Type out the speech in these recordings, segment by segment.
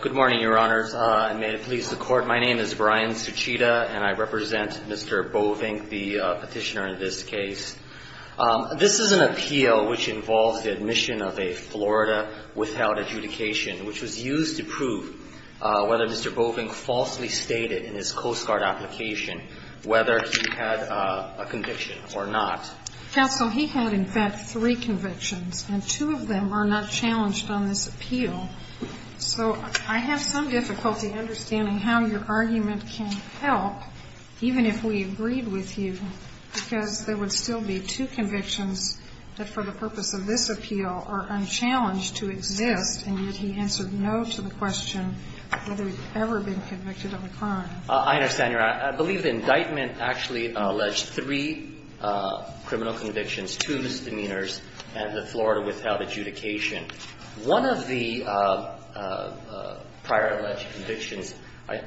Good morning, Your Honors, and may it please the Court, my name is Brian Suchita and I represent Mr. Boevink, the petitioner in this case. This is an appeal which involves the admission of a Florida withheld adjudication, which was used to prove whether Mr. Boevink falsely stated in his Coast Guard application whether he had a conviction or not. Counsel, he had in fact three convictions, and two of them are not challenged on this appeal. So I have some difficulty understanding how your argument can help, even if we agreed with you, because there would still be two convictions that for the purpose of this appeal are unchallenged to exist, and yet he answered no to the question whether he had ever been convicted of a crime. I understand, Your Honor, I believe the indictment actually alleged three criminal convictions, two misdemeanors, and the Florida withheld adjudication. One of the prior alleged convictions,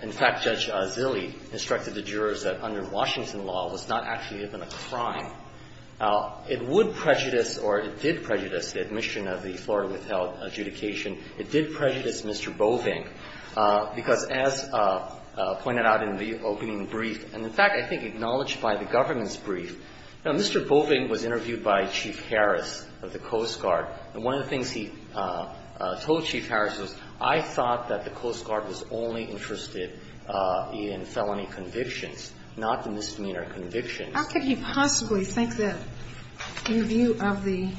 in fact, Judge Zille instructed the jurors that under Washington law was not actually even a crime. It would prejudice or it did prejudice the admission of the Florida withheld adjudication. It did prejudice Mr. Boevink, because as pointed out in the opening brief, and in fact, I think acknowledged by the government's brief, now, Mr. Boevink was interviewed by Chief Harris of the Coast Guard. And one of the things he told Chief Harris was, I thought that the Coast Guard was only interested in felony convictions, not the misdemeanor convictions. How could he possibly think that, in view of the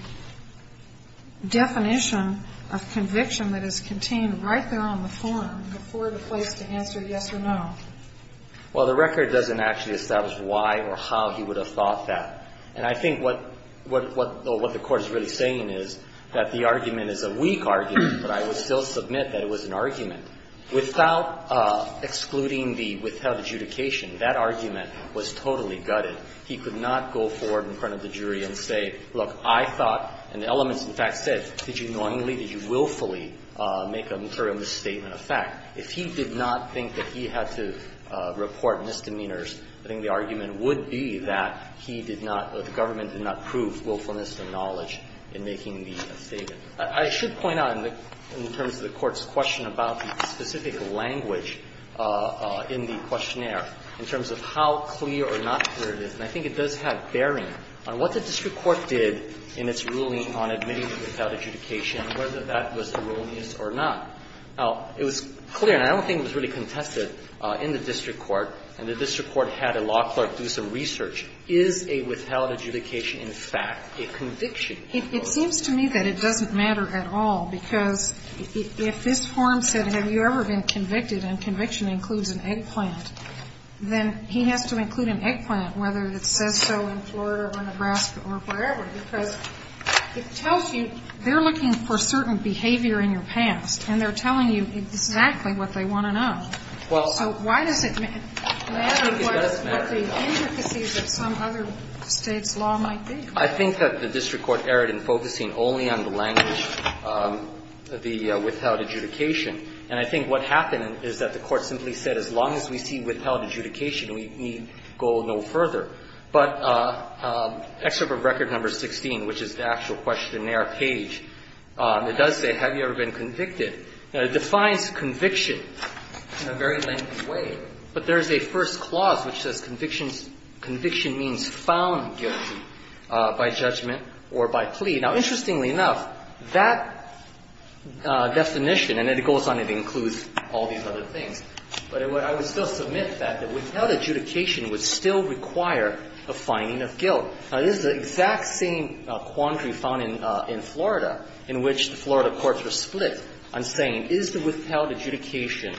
definition of conviction that is contained right there on the form, the Florida place to answer yes or no? Well, the record doesn't actually establish why or how he would have thought that. And I think what the Court is really saying is that the argument is a weak argument, but I would still submit that it was an argument. Without excluding the withheld adjudication, that argument was totally gutted. He could not go forward in front of the jury and say, look, I thought, and the elements in fact said, did you knowingly, did you willfully make a material misstatement of fact? If he did not think that he had to report misdemeanors, I think the argument would be that he did not or the government did not prove willfulness and knowledge in making the statement. I should point out, in terms of the Court's question about the specific language in the questionnaire, in terms of how clear or not clear it is, and I think it does have bearing on what the district court did in its ruling on admitting to withheld adjudication, whether that was erroneous or not. Now, it was clear, and I don't think it was really contested, in the district court, and the district court had a law clerk do some research. Is a withheld adjudication in fact a conviction? It seems to me that it doesn't matter at all, because if this forum said, have you ever been convicted, and conviction includes an eggplant, then he has to include an eggplant, whether it says so in Florida or Nebraska or wherever, because it tells you they're looking for certain behavior in your past, and they're telling you exactly what they want to know. So why does it matter what the intricacies of some other State's law might be? I think that the district court erred in focusing only on the language, the withheld adjudication, and I think what happened is that the Court simply said, as long as we see withheld adjudication, we need go no further. But Excerpt of Record No. 16, which is the actual questionnaire page, it does say, have you ever been convicted? It defines conviction in a very lengthy way, but there is a first clause which says conviction means found guilty by judgment or by plea. Now, interestingly enough, that definition, and it goes on to include all these other things, but I would still submit that the withheld adjudication would still require a finding of guilt. Now, this is the exact same quandary found in Florida, in which the Florida courts were split on saying, is the withheld adjudication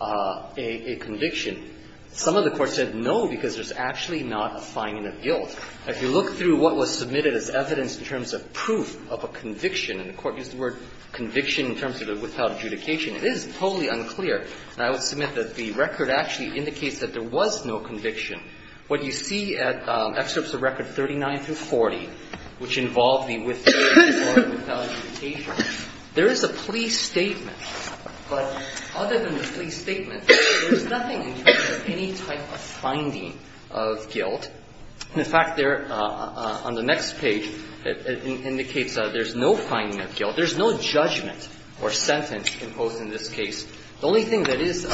a conviction? Some of the courts said no, because there's actually not a finding of guilt. If you look through what was submitted as evidence in terms of proof of a conviction, and the Court used the word conviction in terms of the withheld adjudication, it is totally unclear. And I would submit that the record actually indicates that there was no conviction. What you see at Excerpts of Record No. 39 through 40, which involve the withheld adjudication, there is a plea statement. But other than the plea statement, there's nothing in terms of any type of finding of guilt. In fact, there, on the next page, it indicates that there's no finding of guilt. There's no judgment or sentence imposed in this case. The only thing that is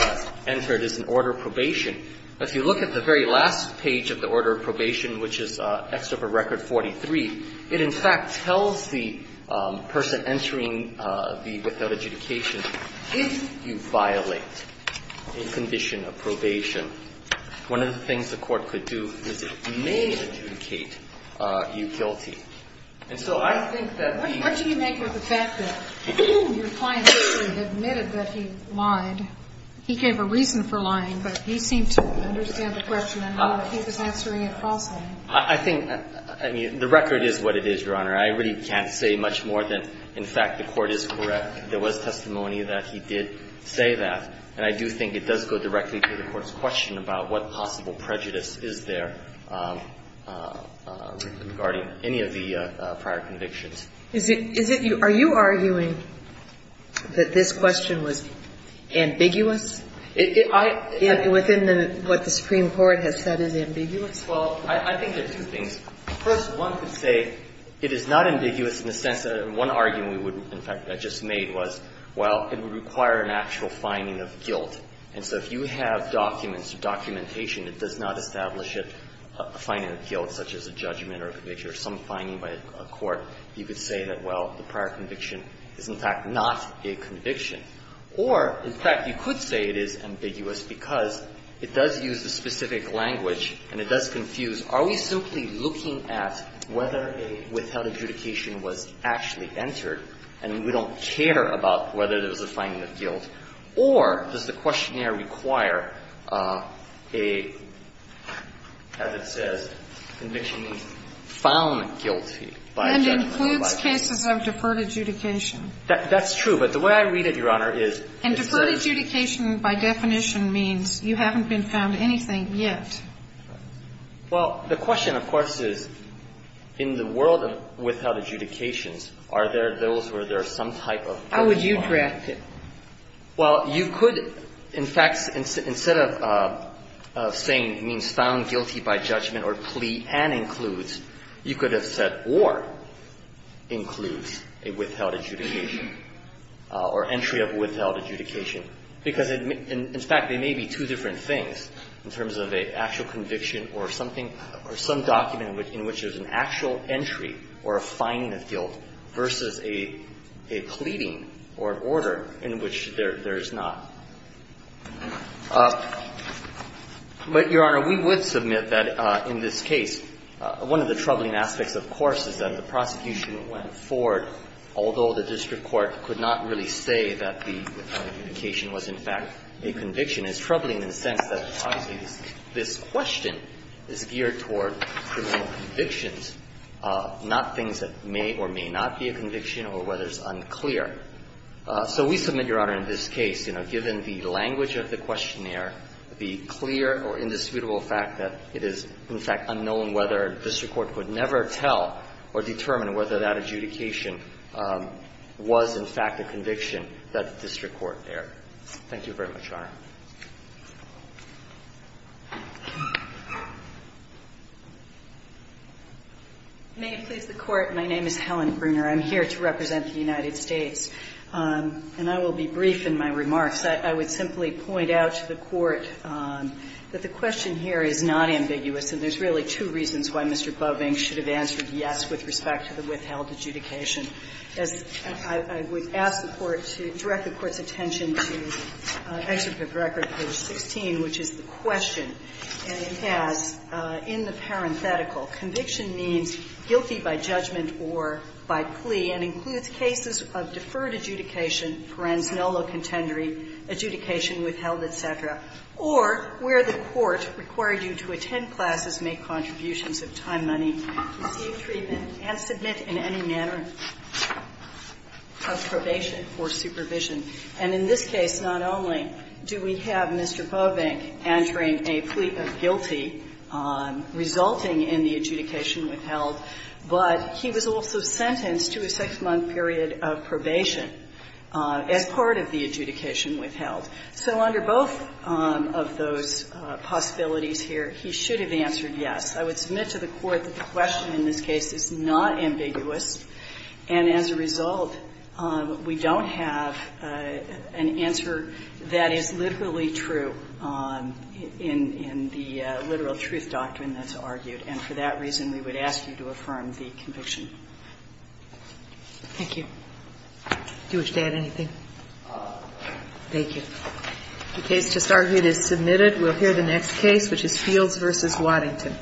entered is an order of probation. If you look at the very last page of the order of probation, which is Excerpt of Record No. 43, it in fact tells the person entering the withheld adjudication, if you violate a condition of probation, one of the things the court could do is it may adjudicate you guilty. And so I think that the ---- What do you make of the fact that your client actually admitted that he lied? He gave a reason for lying, but he seemed to understand the question, and he was answering it falsely. I think, I mean, the record is what it is, Your Honor. I really can't say much more than, in fact, the Court is correct. There was testimony that he did say that. And I do think it does go directly to the Court's question about what possible prejudice is there regarding any of the prior convictions. Is it you ---- Are you arguing that this question was ambiguous? I ---- Within what the Supreme Court has said is ambiguous. Well, I think there are two things. First, one could say it is not ambiguous in the sense that one argument we would ---- in fact, I just made was, well, it would require an actual finding of guilt. And so if you have documents or documentation that does not establish it, a finding of guilt such as a judgment or a conviction or some finding by a court, you could say that, well, the prior conviction is in fact not a conviction. Or, in fact, you could say it is ambiguous because it does use a specific language and it does confuse, are we simply looking at whether a withheld adjudication was actually entered and we don't care about whether there was a finding of guilt or does the questionnaire require a, as it says, conviction found guilty by a judge or by a court. And includes cases of deferred adjudication. That's true. But the way I read it, Your Honor, is it says ---- And deferred adjudication by definition means you haven't been found anything yet. Well, the question, of course, is in the world of withheld adjudications, are there those where there is some type of ---- How would you draft it? Well, you could, in fact, instead of saying it means found guilty by judgment or plea and includes, you could have said or includes a withheld adjudication. Or entry of withheld adjudication. Because, in fact, they may be two different things in terms of an actual conviction or something or some document in which there is an actual entry or a finding of guilt versus a pleading or an order in which there is not. But, Your Honor, we would submit that in this case, one of the troubling aspects, of course, is that the prosecution went forward, although the district court could not really say that the adjudication was, in fact, a conviction. It's troubling in the sense that, obviously, this question is geared toward criminal convictions, not things that may or may not be a conviction or whether it's unclear. So we submit, Your Honor, in this case, you know, given the language of the questionnaire, the clear or indisputable fact that it is, in fact, unknown whether district court would never tell or determine whether that adjudication was, in fact, a conviction that the district court there. Thank you very much, Your Honor. Breyer. May it please the Court. My name is Helen Bruner. I'm here to represent the United States. And I will be brief in my remarks. I would simply point out to the Court that the question here is not ambiguous, and there's really two reasons why Mr. Boeving should have answered yes with respect to the withheld adjudication. As I would ask the Court to direct the Court's attention to Excerpt of the Record, page 16, which is the question, and it has in the parenthetical, conviction means guilty by judgment or by plea and includes cases of deferred adjudication, parens nullo contendere, adjudication withheld, et cetera, or where the Court required you to attend classes, make contributions of time, money, receive treatment, and submit in any manner of probation or supervision. And in this case, not only do we have Mr. Boeving answering a plea of guilty resulting in the adjudication withheld, but he was also sentenced to a six-month period of probation as part of the adjudication withheld. So under both of those possibilities here, he should have answered yes. I would submit to the Court that the question in this case is not ambiguous, and as a result, we don't have an answer that is literally true in the literal truth doctrine that's argued. And for that reason, we would ask you to affirm the conviction. Thank you. Do you wish to add anything? Thank you. The case just argued is submitted. We'll hear the next case, which is Fields v. Waddington. Thank you.